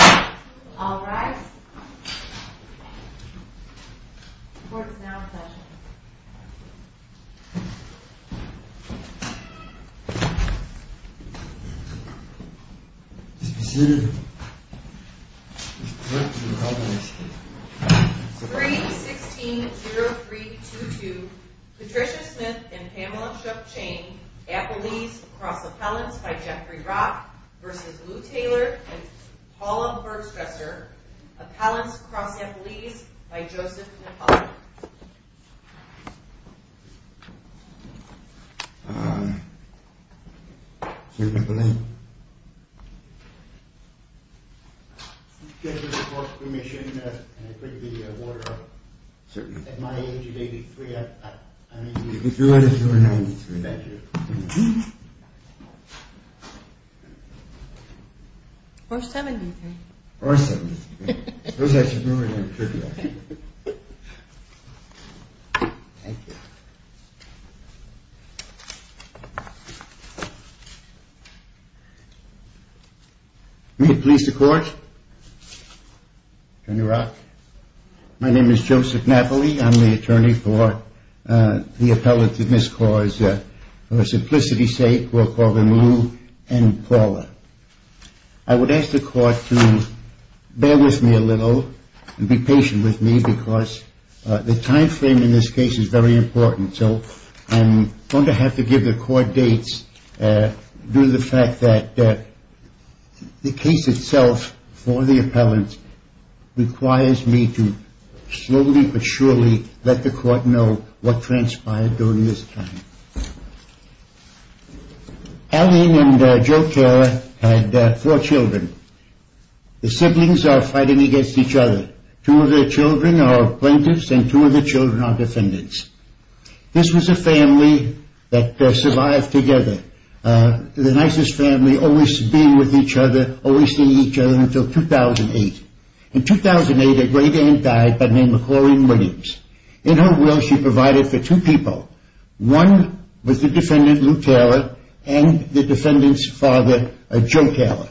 All rise. The court is now in session. Painting Room Be seated. 3-16-0322 Patricia Smith and Pamela Shuffchain Apolles Across appellants by Geoffrey Brock anything their Paula Bergstrasser же. Uh, Senator Blaine. If you give me the court's permission, and I print the award out, at my age of 83, I'm 83. You could do it if you were 93 that year. Or 73. Or 73. Those I should know, and I would print you out. Thank you. Thank you. May it please the court. Attorney Rock. My name is Joseph Napoli. I'm the attorney for, uh, the appellant in this cause. For simplicity's sake, we'll call them Lou and Paula. I would ask the court to bear with me a little and be patient with me because the time frame in this case is very important, so I'm going to have to give the court dates due to the fact that the case itself for the appellant requires me to slowly but surely let the court know what transpired during this time. Eileen and Joe Carra had four children. The siblings are fighting against each other. Two of their children are plaintiffs and two of their children are defendants. This was a family that, uh, survived together. Uh, the nicest family always being with each other, always seeing each other until 2008. In 2008, a great aunt died by the name of Corrine Williams. In her will, she provided for two people. One was the defendant, Lou Carra, and the defendant's father, Joe Carra.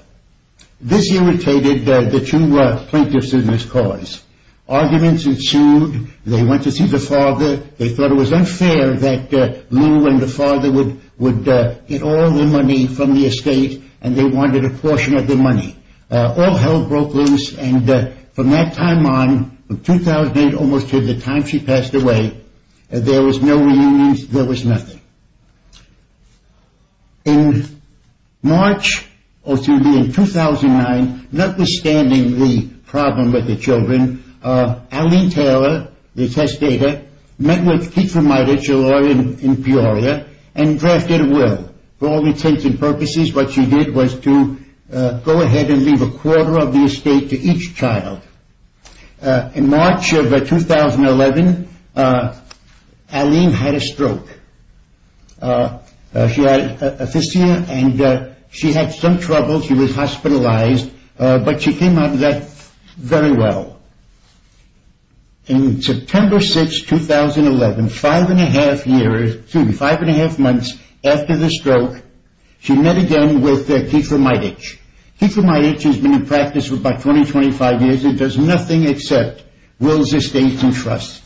This irritated the two, uh, plaintiffs in this cause. Arguments ensued. They went to see the father. They thought it was unfair that, uh, Lou and the father would, would, uh, get all their money from the estate and they wanted a portion of the money. Uh, all hell broke loose and, uh, from that time on, from 2008 almost to the time she passed away, there was no reunions. There was nothing. In March, oh, excuse me, in 2009, notwithstanding the problem with the children, uh, Eileen Taylor, the testator, met with Keith Fumaitich, a lawyer in Peoria, and drafted a will. For all intents and purposes, what she did was to, uh, go ahead and leave a quarter of the estate to each child. Uh, in March of, uh, 2011, uh, Eileen had a stroke. Uh, uh, she had a fistula and, uh, she had some trouble. She was hospitalized, uh, but she came out of that very well. In September 6, 2011, five and a half years, excuse me, five and a half months after the stroke, she met again with, uh, Keith Fumaitich. Keith Fumaitich has been in practice for about 20, 25 years and does nothing except wills, estates, and trusts.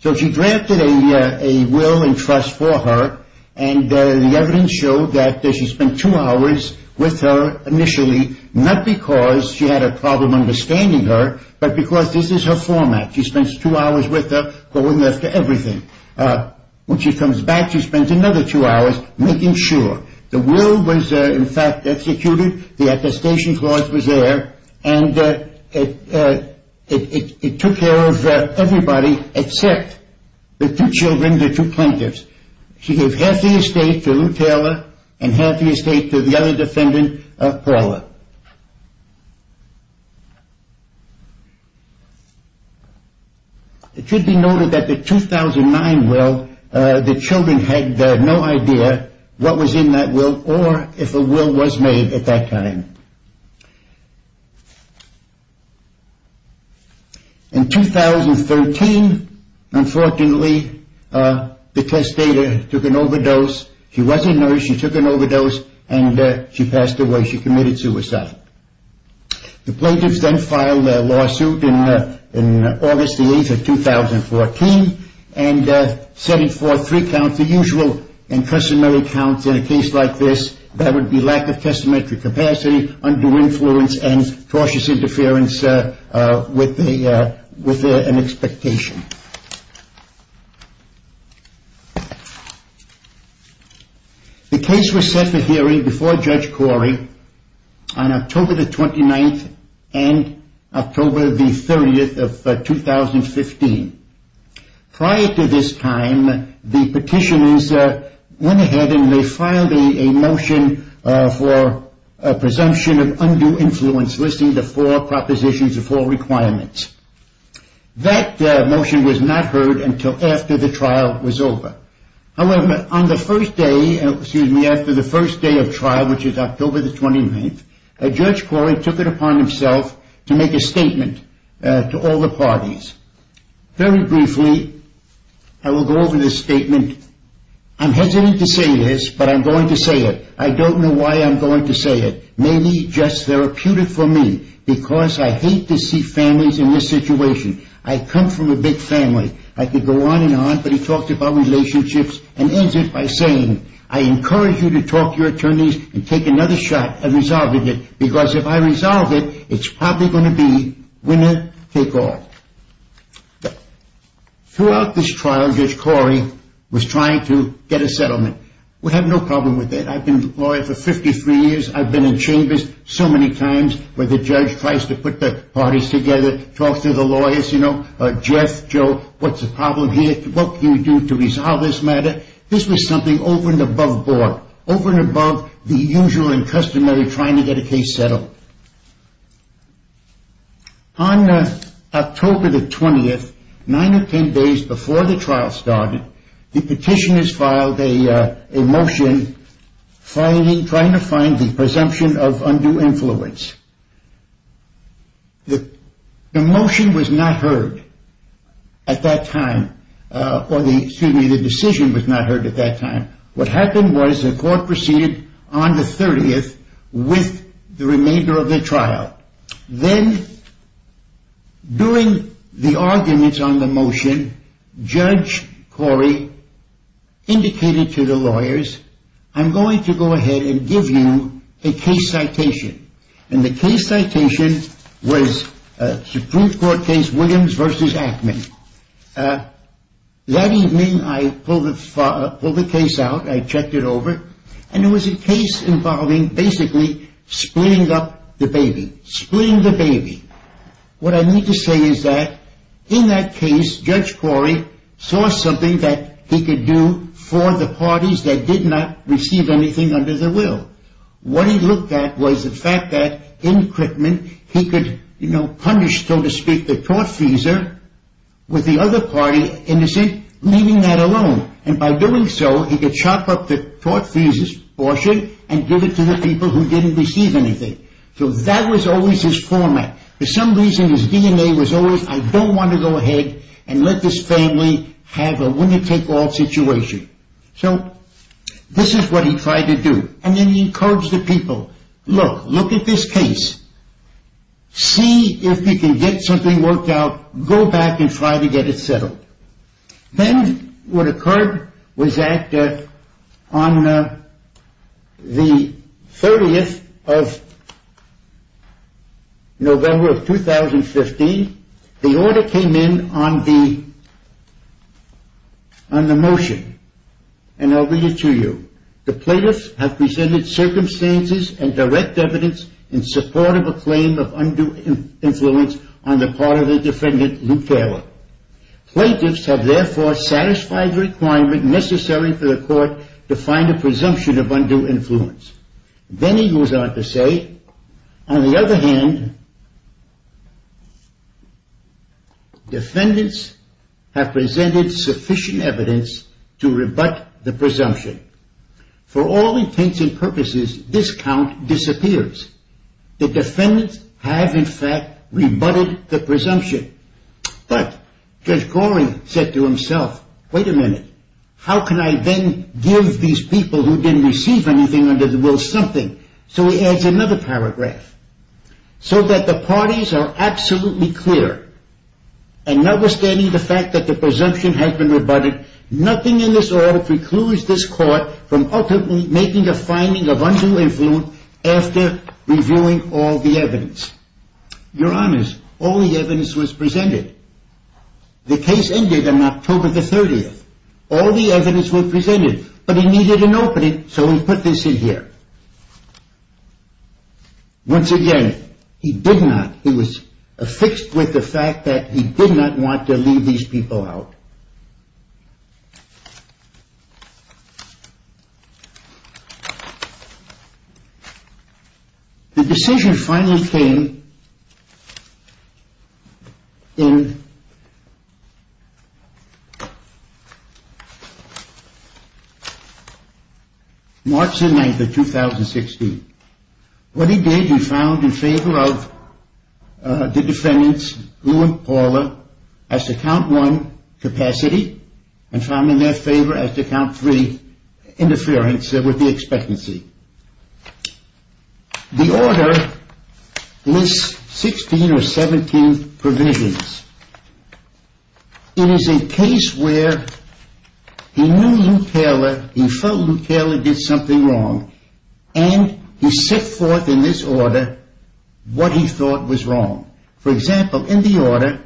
So she drafted a, uh, a will and trust for her and, uh, the evidence showed that she spent two hours with her initially, not because she had a problem understanding her, but because this is her format. She spends two hours with her going after everything. Uh, when she comes back, she spends another two hours making sure. The will was, uh, in fact, executed. The attestation clause was there and, uh, it, uh, it took care of everybody except the two children, the two plaintiffs. She gave half the estate to Lou Taylor and half the estate to the other defendant, uh, Paula. It should be noted that the 2009 will, uh, the children had, uh, no idea what was in that will or if a will was made at that time. In 2013, unfortunately, uh, the testator took an overdose. She was a nurse. She took an overdose and, uh, she passed away. She committed suicide. The plaintiffs then filed a lawsuit in, uh, in August the 8th of 2014 and, uh, setting forth three counts, the usual and customary counts in a case like this. That would be lack of testamentary capacity, undue influence, and cautious interference, uh, uh, with the, uh, with, uh, an expectation. The case was set for hearing before Judge Corey on October the 29th and October the 30th of, uh, 2015. Prior to this time, the petitioners, uh, went ahead and they filed a, a motion, uh, for a presumption of undue influence listing the four propositions, the four requirements. That, uh, motion was not heard until after the trial was over. However, on the first day, excuse me, after the first day of trial, which is October the 29th, Judge Corey took it upon himself to make a statement, uh, to all the parties. Very briefly, I will go over this statement. I'm hesitant to say this, but I'm going to say it. I don't know why I'm going to say it. Maybe just therapeutic for me because I hate to see families in this situation. I come from a big family. I could go on and on, but he talks about relationships and ends it by saying, I encourage you to talk to your attorneys and take another shot at resolving it because if I resolve it, it's probably going to be winner take all. Throughout this trial, Judge Corey was trying to get a settlement. We have no problem with that. I've been a lawyer for 53 years. I've been in chambers so many times where the judge tries to put the parties together, talks to the lawyers, you know, Jeff, Joe, what's the problem here? What can you do to resolve this matter? This was something over and above board, over and above the usual and customary trying to get a case settled. On October the 20th, nine or ten days before the trial started, the petitioners filed a motion trying to find the presumption of undue influence. The motion was not heard at that time or excuse me, the decision was not heard at that time. What happened was the court proceeded on the 30th with the remainder of the trial. Then during the arguments on the motion, Judge Corey indicated to the lawyers, I'm going to go ahead and give you a case citation and the case citation was Supreme Court case Williams v. Ackman. That evening I pulled the case out, I checked it over and it was a case involving basically splitting up the baby, splitting the baby. What I need to say is that in that case Judge Corey saw something that he could do for the parties that did not receive anything under their will. What he looked at was the fact that in equipment he could punish so to speak the tortfeasor with the other party innocent, leaving that alone. By doing so he could chop up the tortfeasor's portion and give it to the people who didn't receive anything. That was always his format. For some reason his DNA was always I don't want to go ahead and let this family have a winner take all situation. This is what he tried to do. And then he encouraged the people look, look at this case. See if you can get something worked out. Go back and try to get it settled. Then what occurred was that on the 30th of November of 2015 the order came in on the on the motion and I'll read it to you. The plaintiffs have presented circumstances and direct evidence in support of a claim of undue influence on the part of the defendant Luke Taylor. Plaintiffs have therefore satisfied the requirement necessary for the court to find a presumption of undue influence. Then he goes on to say on the other hand defendants have presented sufficient evidence to rebut the presumption. For all intents and purposes this count disappears. The defendants have in fact rebutted the presumption. But Judge Goring said to himself wait a minute how can I then give these people who didn't receive anything under the will something. So he adds another paragraph. So that the parties are absolutely clear and notwithstanding the fact that the presumption has been rebutted nothing in this audit precludes this court from ultimately making a finding of undue influence after reviewing all the evidence. Your honors all the evidence was presented. The case ended on October the 30th. All the evidence was presented but he needed an opening so he put this in here. Once again he did not he was affixed with the fact that he did not want to leave these people out. The decision finally came in March the 9th of 2016. What he did he found in favor of the defendants Gould and Pauler as to count one capacity and found in their favor as to count three interference with the expectancy. The order lists 16 or 17 provisions. It is a case where he knew Luke Taylor he felt Luke Taylor did something wrong and he set forth in this order what he thought was wrong. For example in the order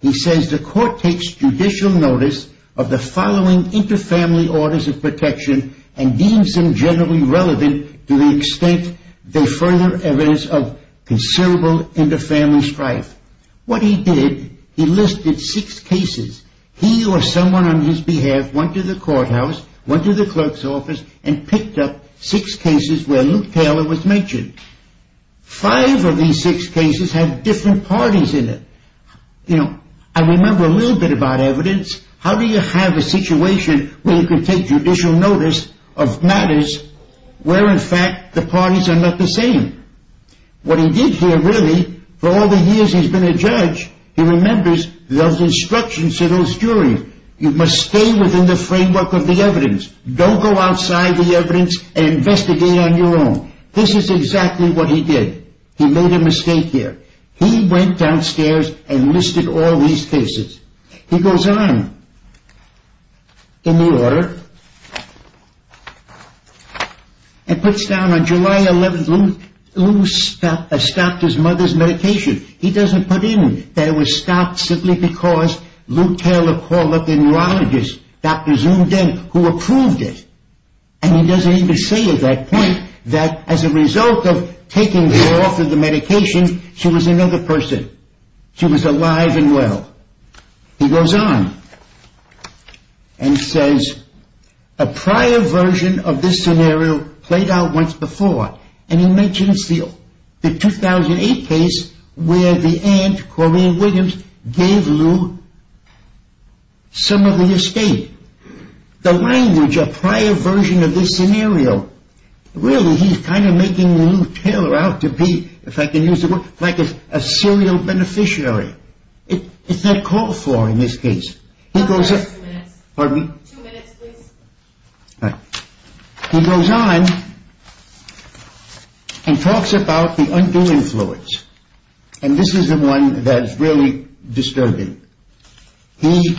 he says the court takes judicial notice of the following inter-family orders of protection and deems them generally relevant to the extent they further evidence of considerable inter-family strife. What he did he listed six cases he or someone on his behalf went to the courthouse went to the clerk's office and picked up six cases where Luke Taylor was mentioned. Five of these six cases had different parties in it. You know I remember a little bit about evidence how do you have a situation where you can take judicial notice of matters where in fact the parties are not the same. What he did here really for all the years he's been a judge he remembers those instructions to those juries you must stay within the framework of the evidence don't go outside the evidence and investigate on your own. This is exactly what he did. He made a mistake here. He went downstairs and listed all these cases. He goes on in the order and puts down on July 11th Luke stopped his mother's medication. He doesn't put in that it was stopped simply because Luke Taylor called up the neurologist Dr. Zoom Den who approved it and he doesn't even say at that point that as a result of taking her off of the medication she was another person. She was alive and well. He goes on and says a prior version of this scenario played out once before and he mentions the 2008 case where the aunt Corrine Williams gave Luke some of the estate. The language a prior version of this scenario really he's kind of making Luke Taylor out to be if I can use the word like a serial beneficiary. It's not called for in this case. He goes up Pardon me? Two minutes please. Right. He goes on and talks about the undoing fluids and this is the one that's really disturbing. He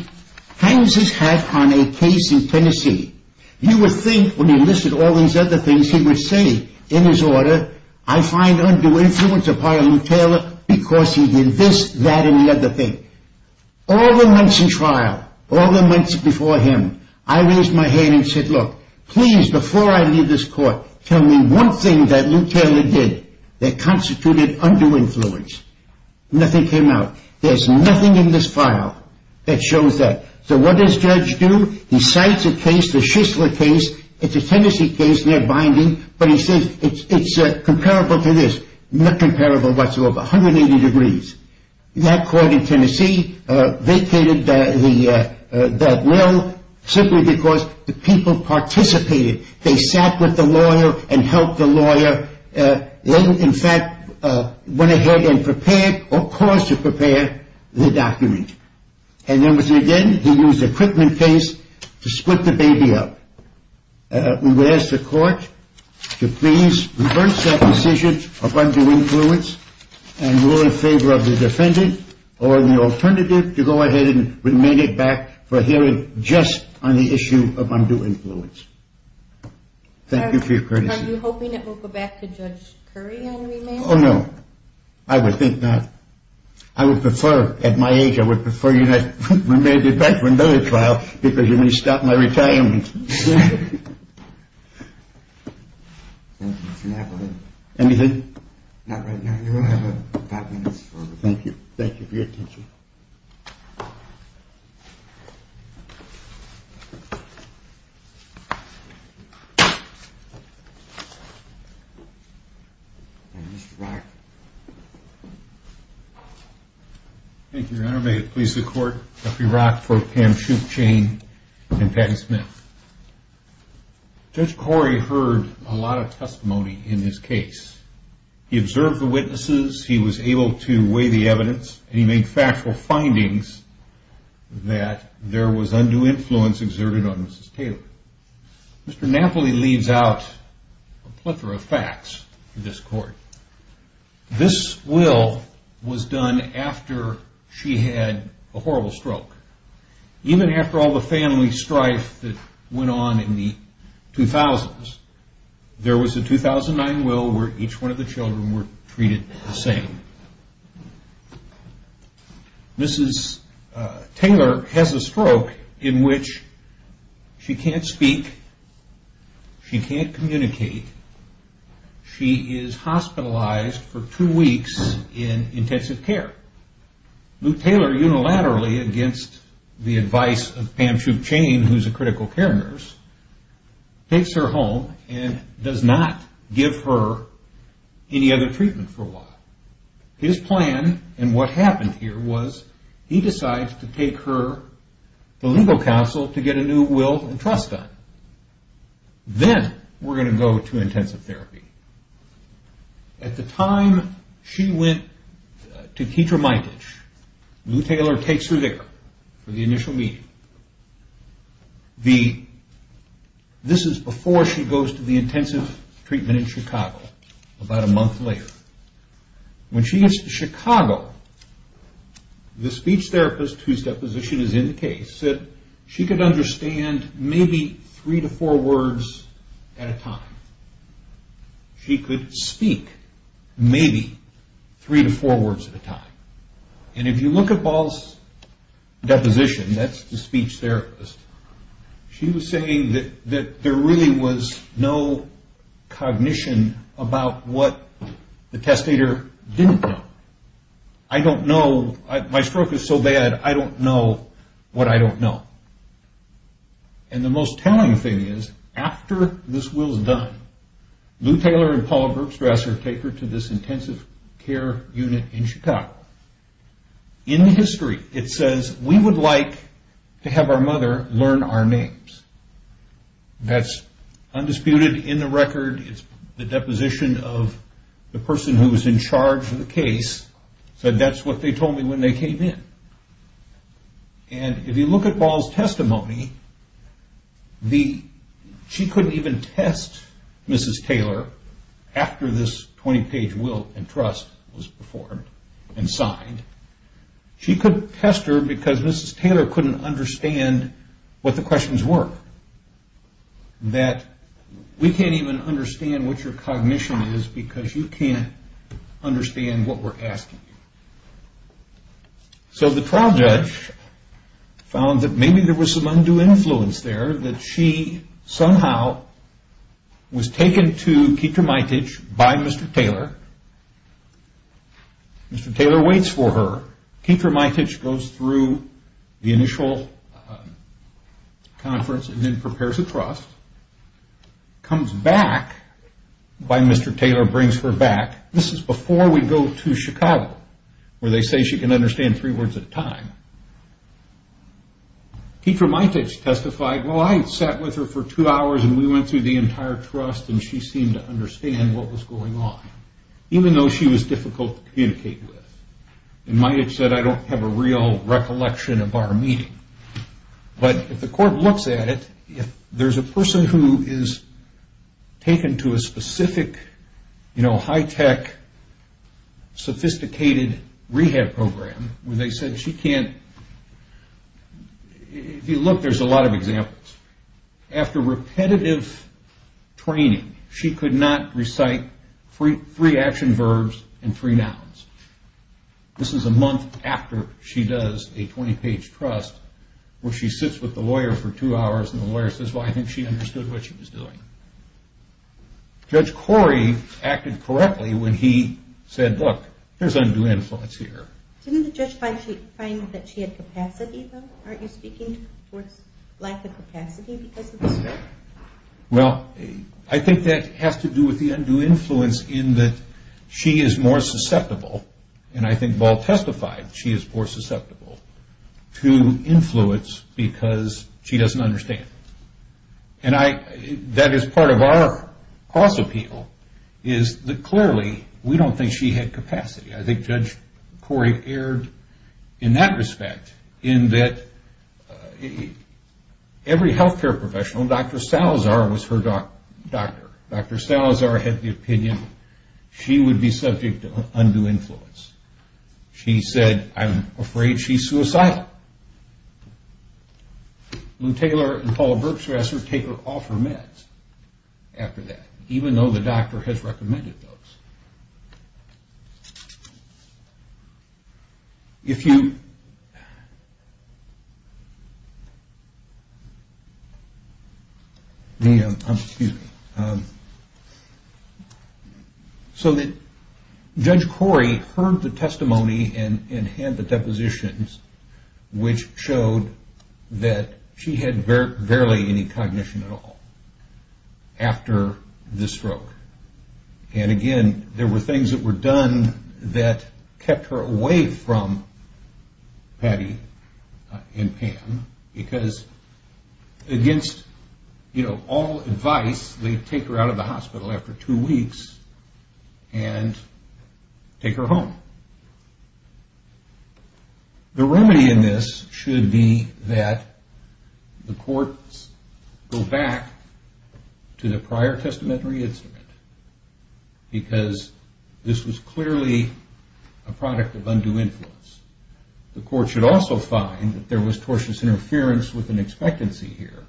hangs his hat on a case in Tennessee. You would think when he listed all these other things he would say in his order I find undoing fluids a prior Luke Taylor because he did this that and the other thing. All the months in trial all the months before him I raised my hand and said look please before I leave this court tell me one thing that Luke Taylor did that constituted undoing fluids. Nothing came out. There's nothing in this file that shows that. So what does Judge do? He cites a case the Shisler case it's a Tennessee case near Binding but he says it's comparable to this not comparable whatsoever 180 degrees. That court in Tennessee vacated that will simply because the people participated. They sat with the lawyer and helped the lawyer then in fact went ahead and prepared or caused to prepare the document. And then again he used a equipment case to split the baby up. We would ask the court to please reverse that decision of undoing fluids and rule in favor of the defendant or the alternative to go ahead and remain it back for hearing just on the issue of undoing fluids. Thank you for your courtesy. Are you hoping it will go back to Judge Curry on remand? Oh no. I would think not. I would prefer at my age I would prefer remanded back for another trial because you may stop my retirement. Anything? Not right now. You will have five minutes. Thank you. Thank you for your attention. Mr. Rock. Thank you, Your Honor. May it please the Court, Jeffrey Rock for Pam Schuchane and Patty Smith. Judge Corey heard a lot of testimony in this case. He observed the witnesses, he was able to weigh the evidence, and he made factual findings that there was undue influence exerted on Mrs. Taylor. Mr. Napoli leaves out a plethora of facts to this Court. This will was done after she had a horrible stroke. Even after all the family strife that went on in the 2000s, there was a 2009 will where each one of the children were treated the same. Mrs. Taylor has a stroke in which she can't speak, she can't communicate, she is hospitalized for two weeks in intensive care. Luke Taylor, unilaterally, against the advice of Pam Schuchane, who is a critical care nurse, takes her home and does not give her any other treatment for a while. His plan, and what happened here, was he decides to take her to legal counsel to get a new will and trust done. Then we're going to go to intensive therapy. At the time she went to Keetra Mitage, Luke Taylor takes her there for the initial meeting. This is before she goes to the intensive treatment in Chicago, about a month later. When she gets to Chicago, the speech therapist, whose deposition is in the case, said she could understand maybe three to four words at a time. She could speak maybe three to four words at a time. And if you look at Paul's deposition, that's the speech therapist, she was saying that there really was no cognition about what the testator didn't know. I don't know, my stroke is so bad, I don't know what I don't know. And the most telling thing is, after this will is done, Luke Taylor and Paul Gerkstra ask her to take her to this intensive care unit in Chicago. In the history, it says, we would like to have our mother learn our names. That's undisputed in the record. The deposition of the person who was in charge of the case said that's what they told me when they came in. And if you look at Paul's testimony, she couldn't even test Mrs. Taylor after this 20-page will and trust was performed and signed. She couldn't test her because Mrs. Taylor couldn't understand what the questions were. That we can't even understand what your cognition is because you can't understand what we're asking. So the trial judge found that maybe there was some undue influence there, that she somehow was taken to Ketermaitich by Mr. Taylor. Mr. Taylor waits for her. Ketermaitich goes through the initial conference and then prepares a trust. Comes back by Mr. Taylor, brings her back. This is before we go to Chicago, where they say she can understand three words at a time. Ketermaitich testified, well, I sat with her for two hours and we went through the entire trust and she seemed to understand what was going on, even though she was difficult to communicate with. And Maitich said, I don't have a real recollection of our meeting. But if the court looks at it, if there's a person who is taken to a specific high-tech, sophisticated rehab program where they said she can't, if you look, there's a lot of examples. After repetitive training, she could not recite three action verbs and three nouns. This is a month after she does a 20-page trust where she sits with the lawyer for two hours and the lawyer says, well, I think she understood what she was doing. Judge Corey acted correctly when he said, look, there's undue influence here. Didn't the judge find that she had capacity, though? Aren't you speaking to the court's lack of capacity because of this? Well, I think that has to do with the undue influence in that she is more susceptible, and I think Ball testified she is more susceptible, to influence because she doesn't understand. And that is part of our cost appeal, is that clearly we don't think she had capacity. I think Judge Corey erred in that respect, in that every healthcare professional, Dr. Salazar was her doctor. Dr. Salazar had the opinion she would be subject to undue influence. She said, I'm afraid she's suicidal. Lou Taylor and Paula Burks, who asked her, take her off her meds after that, even though the doctor has recommended those. If you... Excuse me. So Judge Corey heard the testimony, and had the depositions, which showed that she had barely any cognition at all, after this stroke. And again, there were things that were done, that kept her away from Patty and Pam, because against all advice, they take her out of the hospital after two weeks, and take her home. The remedy in this should be that, the courts go back, to the prior testamentary instrument. Because this was clearly, a product of undue influence. The court should also find that there was tortuous interference, with an expectancy here.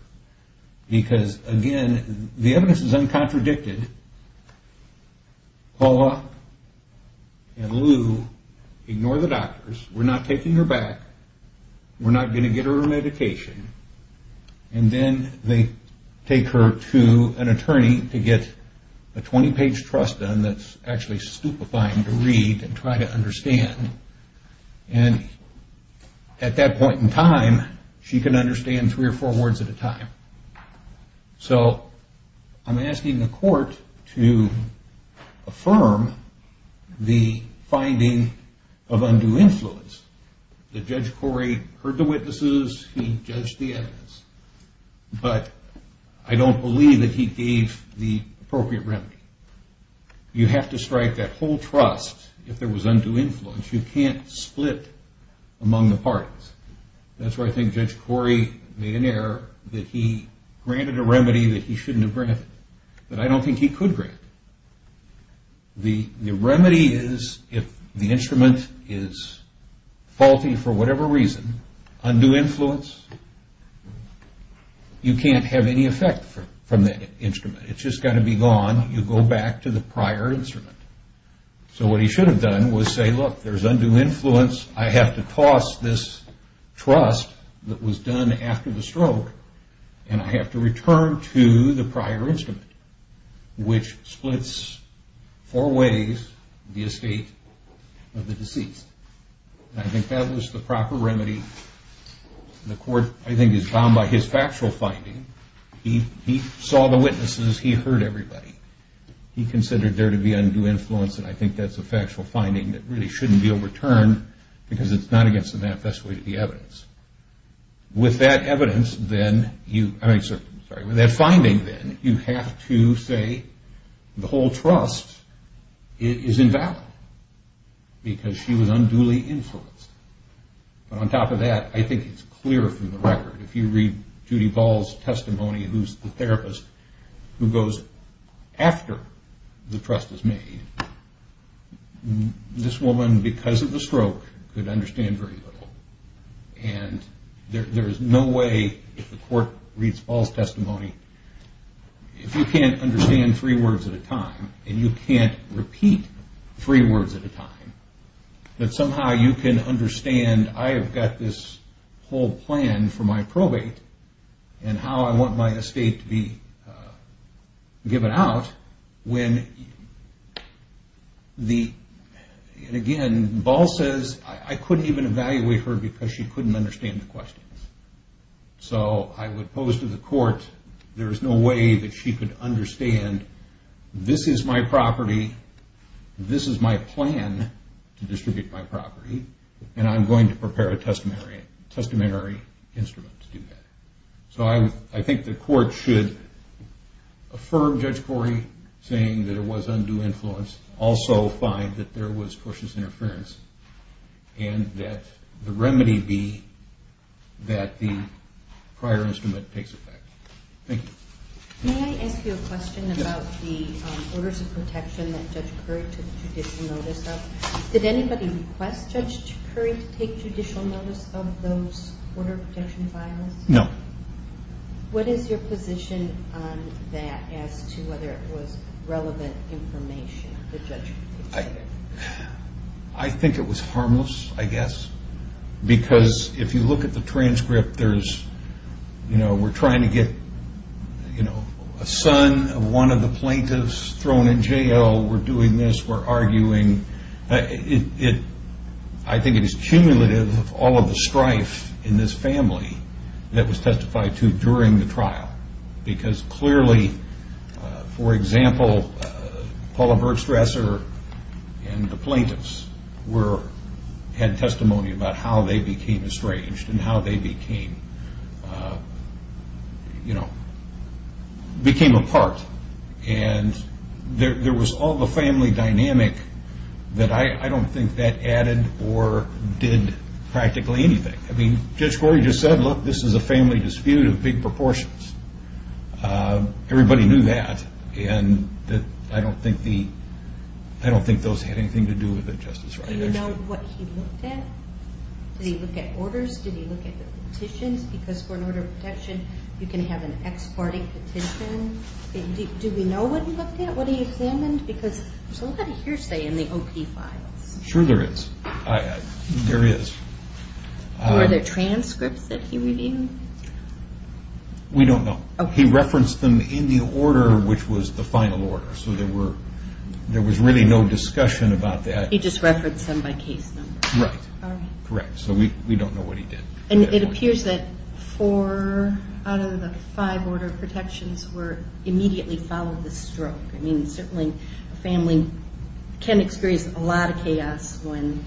Because again, the evidence is uncontradicted. Paula and Lou, ignore the doctors. We're not taking her back. We're not going to get her her medication. And then they take her to an attorney, to get a 20 page trust done, that's actually stupefying to read, and try to understand. And at that point in time, she can understand three or four words at a time. So I'm asking the court to affirm, the finding of undue influence. That Judge Corey heard the witnesses, he judged the evidence. But I don't believe that he gave the appropriate remedy. You have to strike that whole trust, if there was undue influence. You can't split among the parties. That's where I think Judge Corey made an error, that he granted a remedy that he shouldn't have granted. That I don't think he could grant. The remedy is, if the instrument is faulty for whatever reason, undue influence, you can't have any effect from that instrument. It's just got to be gone, you go back to the prior instrument. So what he should have done was say, look, there's undue influence, I have to toss this trust that was done after the stroke, and I have to return to the prior instrument, which splits four ways, the estate of the deceased. I think that was the proper remedy. The court, I think, is bound by his factual finding. He saw the witnesses, he heard everybody. He considered there to be undue influence, and I think that's a factual finding that really shouldn't be overturned, because it's not against the manifesto of the evidence. With that finding, you have to say, the whole trust is invalid, because she was unduly influenced. On top of that, I think it's clear from the record, if you read Judy Ball's testimony, who's the therapist who goes after the trust is made, this woman, because of the stroke, could understand very little. There is no way, if the court reads Ball's testimony, if you can't understand three words at a time, and you can't repeat three words at a time, that somehow you can understand, I have got this whole plan for my probate, and how I want my estate to be given out, when the, and again, Ball says, I couldn't even evaluate her, because she couldn't understand the questions. So, I would pose to the court, there is no way that she could understand, this is my property, this is my plan, to distribute my property, and I'm going to prepare a testamentary instrument to do that. So, I think the court should affirm Judge Corey, saying that it was undue influence, also find that there was tortious interference, and that the remedy be, that the prior instrument takes effect. Thank you. May I ask you a question about the orders of protection that Judge Corey took judicial notice of? Did anybody request Judge Corey to take judicial notice of those order of protection files? No. What is your position on that, as to whether it was relevant information that Judge Corey took? I think it was harmless, I guess, because if you look at the transcript, we're trying to get a son of one of the plaintiffs thrown in jail, we're doing this, we're arguing, I think it is cumulative of all of the strife in this family that was testified to during the trial, because clearly, for example, Paula Birdstresser and the plaintiffs had testimony about how they became estranged, and how they became, you know, became a part, and there was all the family dynamic that I don't think that added or did practically anything. I mean, Judge Corey just said, look, this is a family dispute of big proportions. Everybody knew that, and I don't think those had anything to do with it, Justice Reinhart. Do you know what he looked at? Did he look at orders? Did he look at the petitions? Because for an order of protection, you can have an ex-party petition. Do we know what he looked at? What he examined? Because there's a lot of hearsay in the OP files. Sure there is. Were there transcripts that he reviewed? We don't know. He referenced them in the order which was the final order, so there was really no discussion about that. He just referenced them by case number. Correct. So we don't know what he did. And it appears that four out of the five order of protections immediately followed the stroke. I mean, certainly a family can experience a lot of chaos when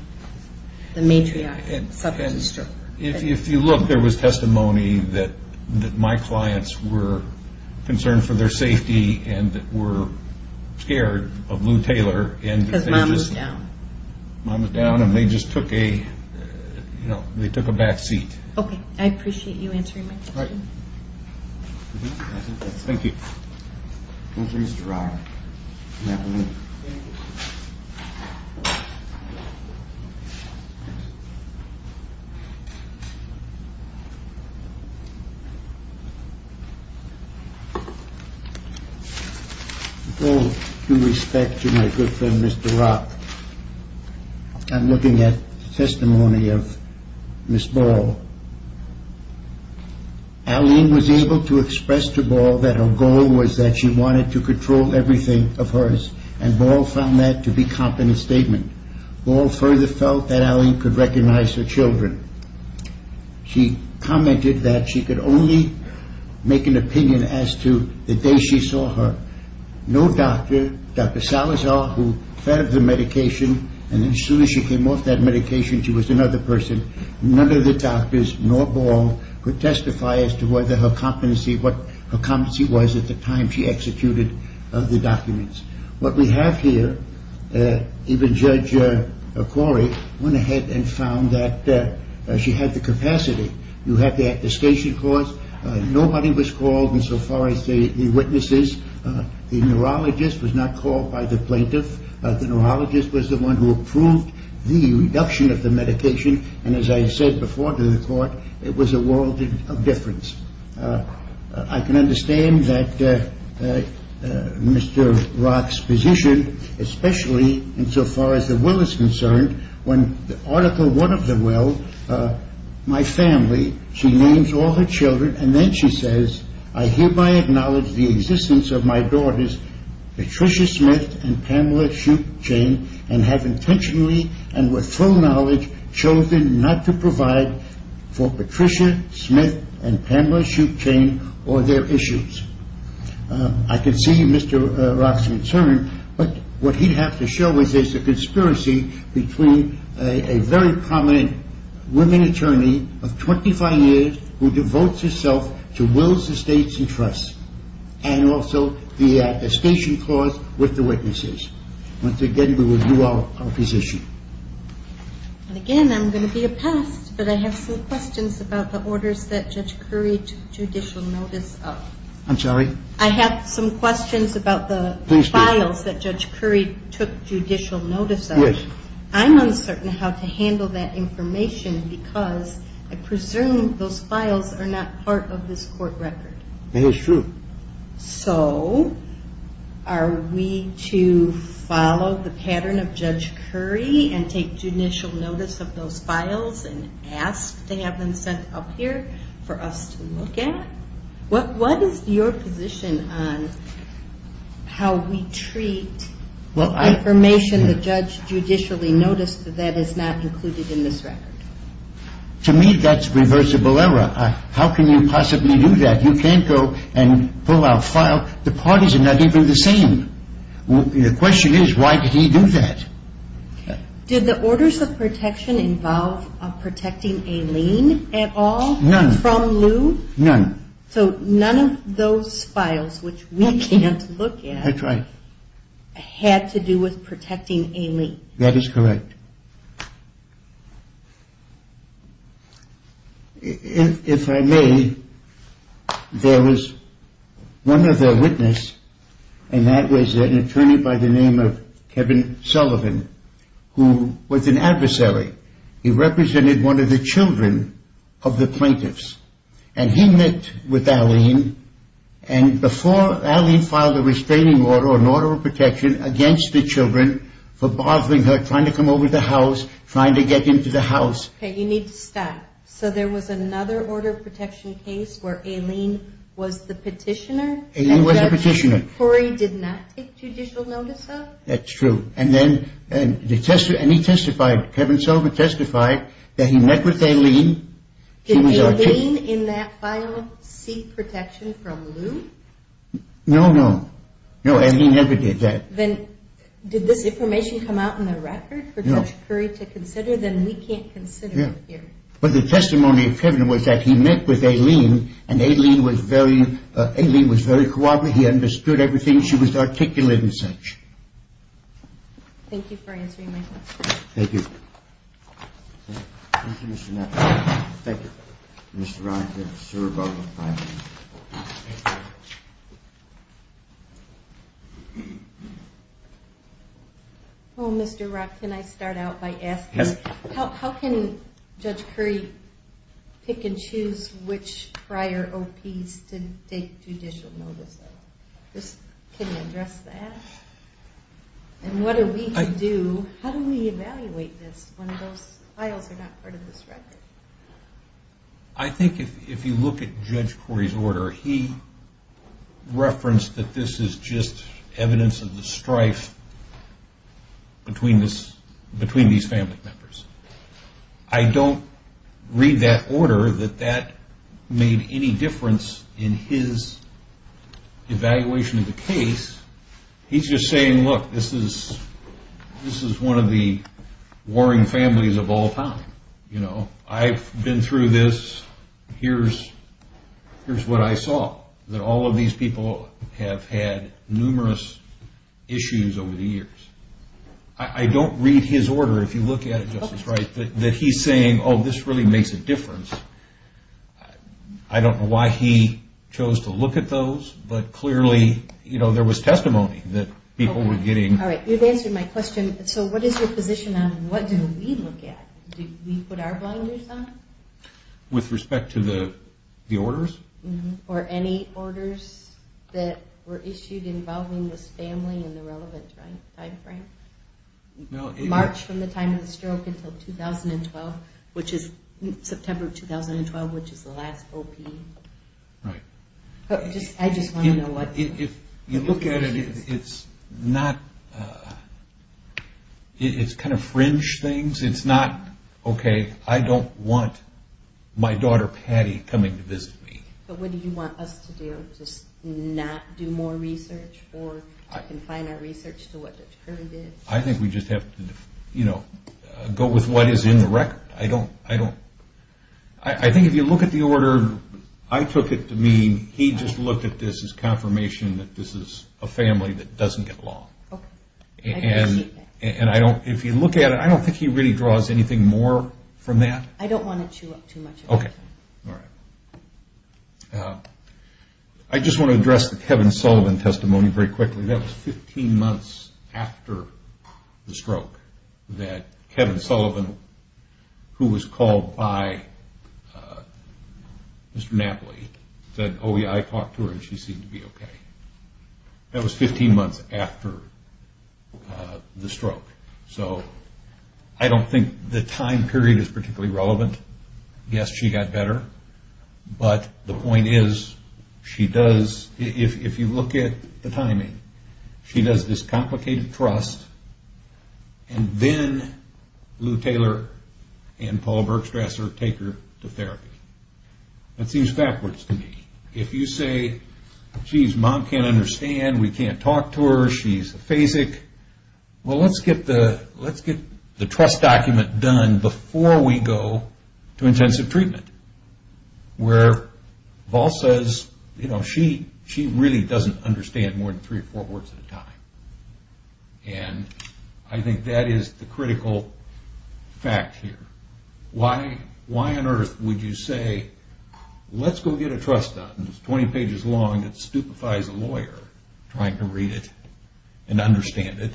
the matriarch suffers a stroke. If you look, there was testimony that my clients were concerned for their safety and were scared of Lou Taylor. Because mom was down. Mom was down, and they just took a back seat. Okay. I appreciate you answering my question. Thank you. Thank you, Mr. Roth. With all due respect to my good friend, Mr. Roth, I'm looking at testimony of Ms. Ball. Arlene was able to express to Ball that her goal was that she wanted to control everything of hers, and Ball found that to be competent statement. Ball further felt that Arlene could recognize her children. She commented that she could only make an opinion as to the day she saw her. No doctor, Dr. Salazar, who fed her the medication, and as soon as she came off that medication, she was another person. None of the doctors, nor Ball, could testify as to what her competency was at the time she executed the documents. What we have here, even Judge Corey, went ahead and found that she had the capacity. You have the attestation clause. Nobody was called insofar as the witnesses. The neurologist was not called by the plaintiff. The neurologist was the one who approved the reduction of the medication, and as I said before to the court, it was a world of difference. I can understand that Mr. Roth's position, especially insofar as the will is concerned, when Article I of the will, my family, she names all her children, and then she says, I hereby acknowledge the existence of my daughters, Patricia Smith and Pamela Schuchane, and have intentionally and with full knowledge chosen not to provide for Patricia Smith and Pamela Schuchane or their issues. I can see Mr. Roth's concern, but what he'd have to show is there's a conspiracy between a very prominent women attorney of 25 years who devotes herself to wills, estates, and trusts, and also the station clause with the witnesses. Once again, we will do our position. Again, I'm going to be a pest, but I have some questions about the orders that Judge Curry took judicial notice of. I'm sorry? I have some questions about the files that Judge Curry took judicial notice of. Yes. I'm uncertain how to handle that information because I presume those files are not part of this court record. It is true. So, are we to follow the pattern of Judge Curry and take judicial notice of those files and ask to have them sent up here for us to look at? What is your position on how we treat information the judge judicially noticed that is not included in this record? To me, that's reversible error. How can you possibly do that? You can't go and pull out a file. The parties are not even the same. The question is, why did he do that? Did the orders of protection involve protecting Aileen at all? None. From Lou? None. So, none of those files, which we can't look at, had to do with protecting Aileen? That is correct. If I may, there was one other witness and that was an attorney by the name of Kevin Sullivan who was an adversary. He represented one of the children of the plaintiffs and he met with Aileen and before Aileen filed a restraining order, an order of protection against the children for bothering her, trying to come over to the house, trying to get into the house. You need to stop. So there was another order of protection case where Aileen was the petitioner? Aileen was the petitioner. Corey did not take judicial notice of? That's true. And he testified, Kevin Sullivan testified, that he met with Aileen. Did Aileen in that file seek protection from Lou? No, no. No, Aileen never did that. Then, did this information come out in the record for Judge Curry to consider? Then we can't consider it here. But the testimony of Kevin was that he met with Aileen and Aileen was very cooperative. He understood everything. She was articulate and such. Thank you for answering my question. Thank you. Thank you, Mr. Neff. Thank you. Mr. Rock, you're sure about the filing. Well, Mr. Rock, can I start out by asking how can Judge Curry pick and choose which prior OPs to take judicial notice of? Can you address that? And what are we to do? How do we evaluate this when those files are not part of this record? I think if you look at Judge Curry's order, he referenced that this is just evidence of the strife between these family members. I don't read that order that that made any difference in his evaluation of the case. He's just saying, look, this is one of the I've been through this. Here's what I saw. That all of these people have had numerous issues over the years. I don't read his order if you look at it, Justice Wright, that he's saying, oh, this really makes a difference. I don't know why he chose to look at those, but clearly there was testimony that people were getting. You've answered my question. So what is your position on what do we look at? Do we put our blinders on? With respect to the orders? Or any orders that were issued involving this family in the relevant time frame? March from the time of the stroke until 2012, which is September 2012, which is the last OP. Right. I just want to know what If you look at it, it's not It's kind of fringe things. It's not, okay, I don't want my daughter, Patty, coming to visit me. But what do you want us to do? Just not do more research or confine our research to what Dr. Curry did? I think we just have to go with what is in the record. I think if you look at the order I took it to mean he just looked at this as confirmation that this is a family that doesn't get along. And if you look at it, I don't think he really draws anything more from that. I don't want to chew up too much information. I just want to address the Kevin Sullivan testimony very quickly. That was 15 months after the stroke that Kevin Sullivan, who was called by Mr. Napoli said, oh yeah, I talked to her and she seemed to be okay. That was 15 months after the stroke. So I don't think the time period is particularly relevant. Yes, she got better. But the point is she does, if you look at the timing, she does this complicated trust and then Lou Taylor and Paul Bergstrasser take her to therapy. That seems backwards to me. If you say, geez, mom can't understand, we can't talk to her, she's a phasic. Well, let's get the trust document done before we go to intensive treatment. Where Paul says she really doesn't understand more than three or four words at a time. I think that is the critical fact here. Why on earth would you say, let's go get a trust document that's 20 pages long that stupefies a lawyer trying to read it and understand it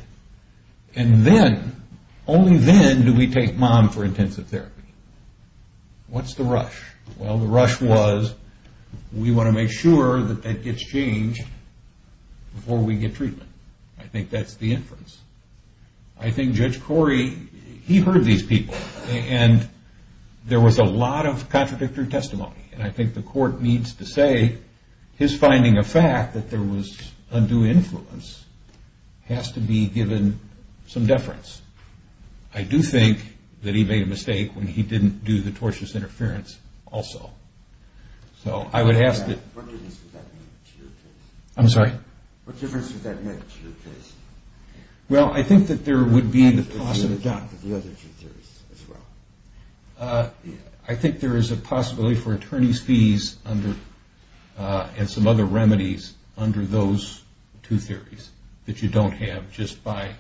and then, only then do we take mom for intensive therapy. What's the rush? Well, the rush was we want to make sure that that gets changed before we get treatment. I think that's the inference. I think Judge Corey, he heard these people and there was a lot of contradictory testimony. I think the court needs to say his finding of fact that there was undue influence has to be given some deference. I do think that he made a mistake when he didn't do the tortious interference also. What difference does that make to your case? Well, I think that there would be the possibility. I think there is a possibility for attorney's fees and some other remedies under those two theories that you don't have just by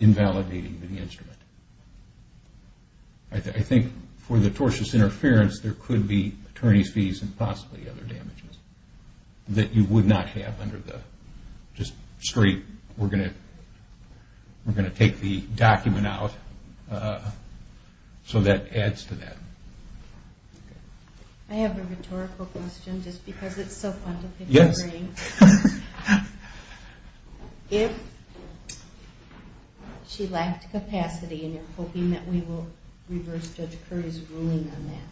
invalidating the instrument. I think for the tortious interference there could be attorney's fees and possibly other damages that you would not have under the, just straight we're going to take the document out so that adds to that. I have a rhetorical question just because it's so fun to pick your brain. If she lacked capacity and you're hoping that we will reverse Judge Corey's ruling on that.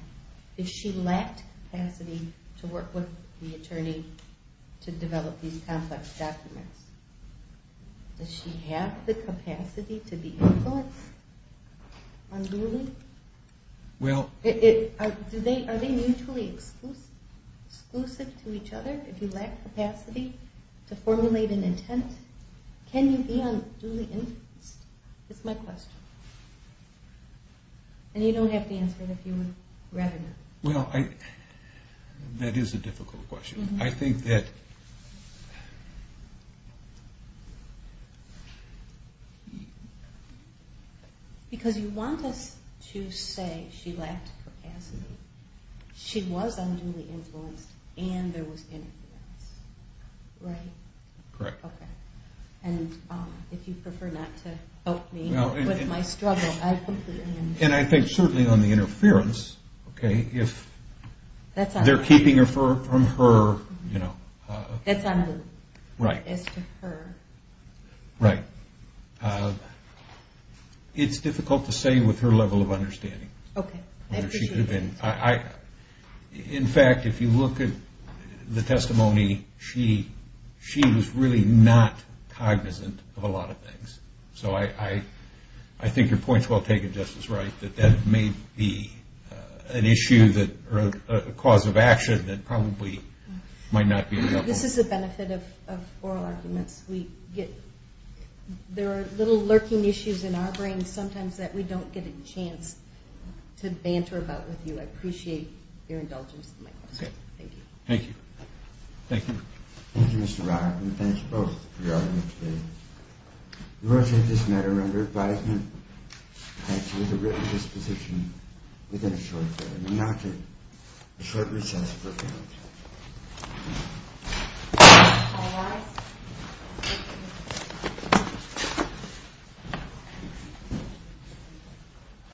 If she lacked capacity to work with the attorney to develop these complex documents. Does she have the capacity to be influenced unduly? Are they mutually exclusive to each other if you lack capacity to formulate an intent? Can you be unduly influenced? That's my question. And you don't have to answer it if you would rather not. That is a difficult question. Because you want us to say she lacked capacity. She was unduly influenced and there was interference. Right? Correct. And if you prefer not to help me with my struggle. And I think certainly on the interference if they're keeping her from her That's unduly as to her. Right. It's difficult to say with her level of understanding whether she could have been. In fact if you look at the testimony she was really not I think your point is well taken Justice Wright. That may be an issue or a cause of action that probably might not be available. This is the benefit of oral arguments. There are little lurking issues in our brains sometimes that we don't get a chance to banter about with you. I appreciate your indulgence in my question. Thank you. Thank you.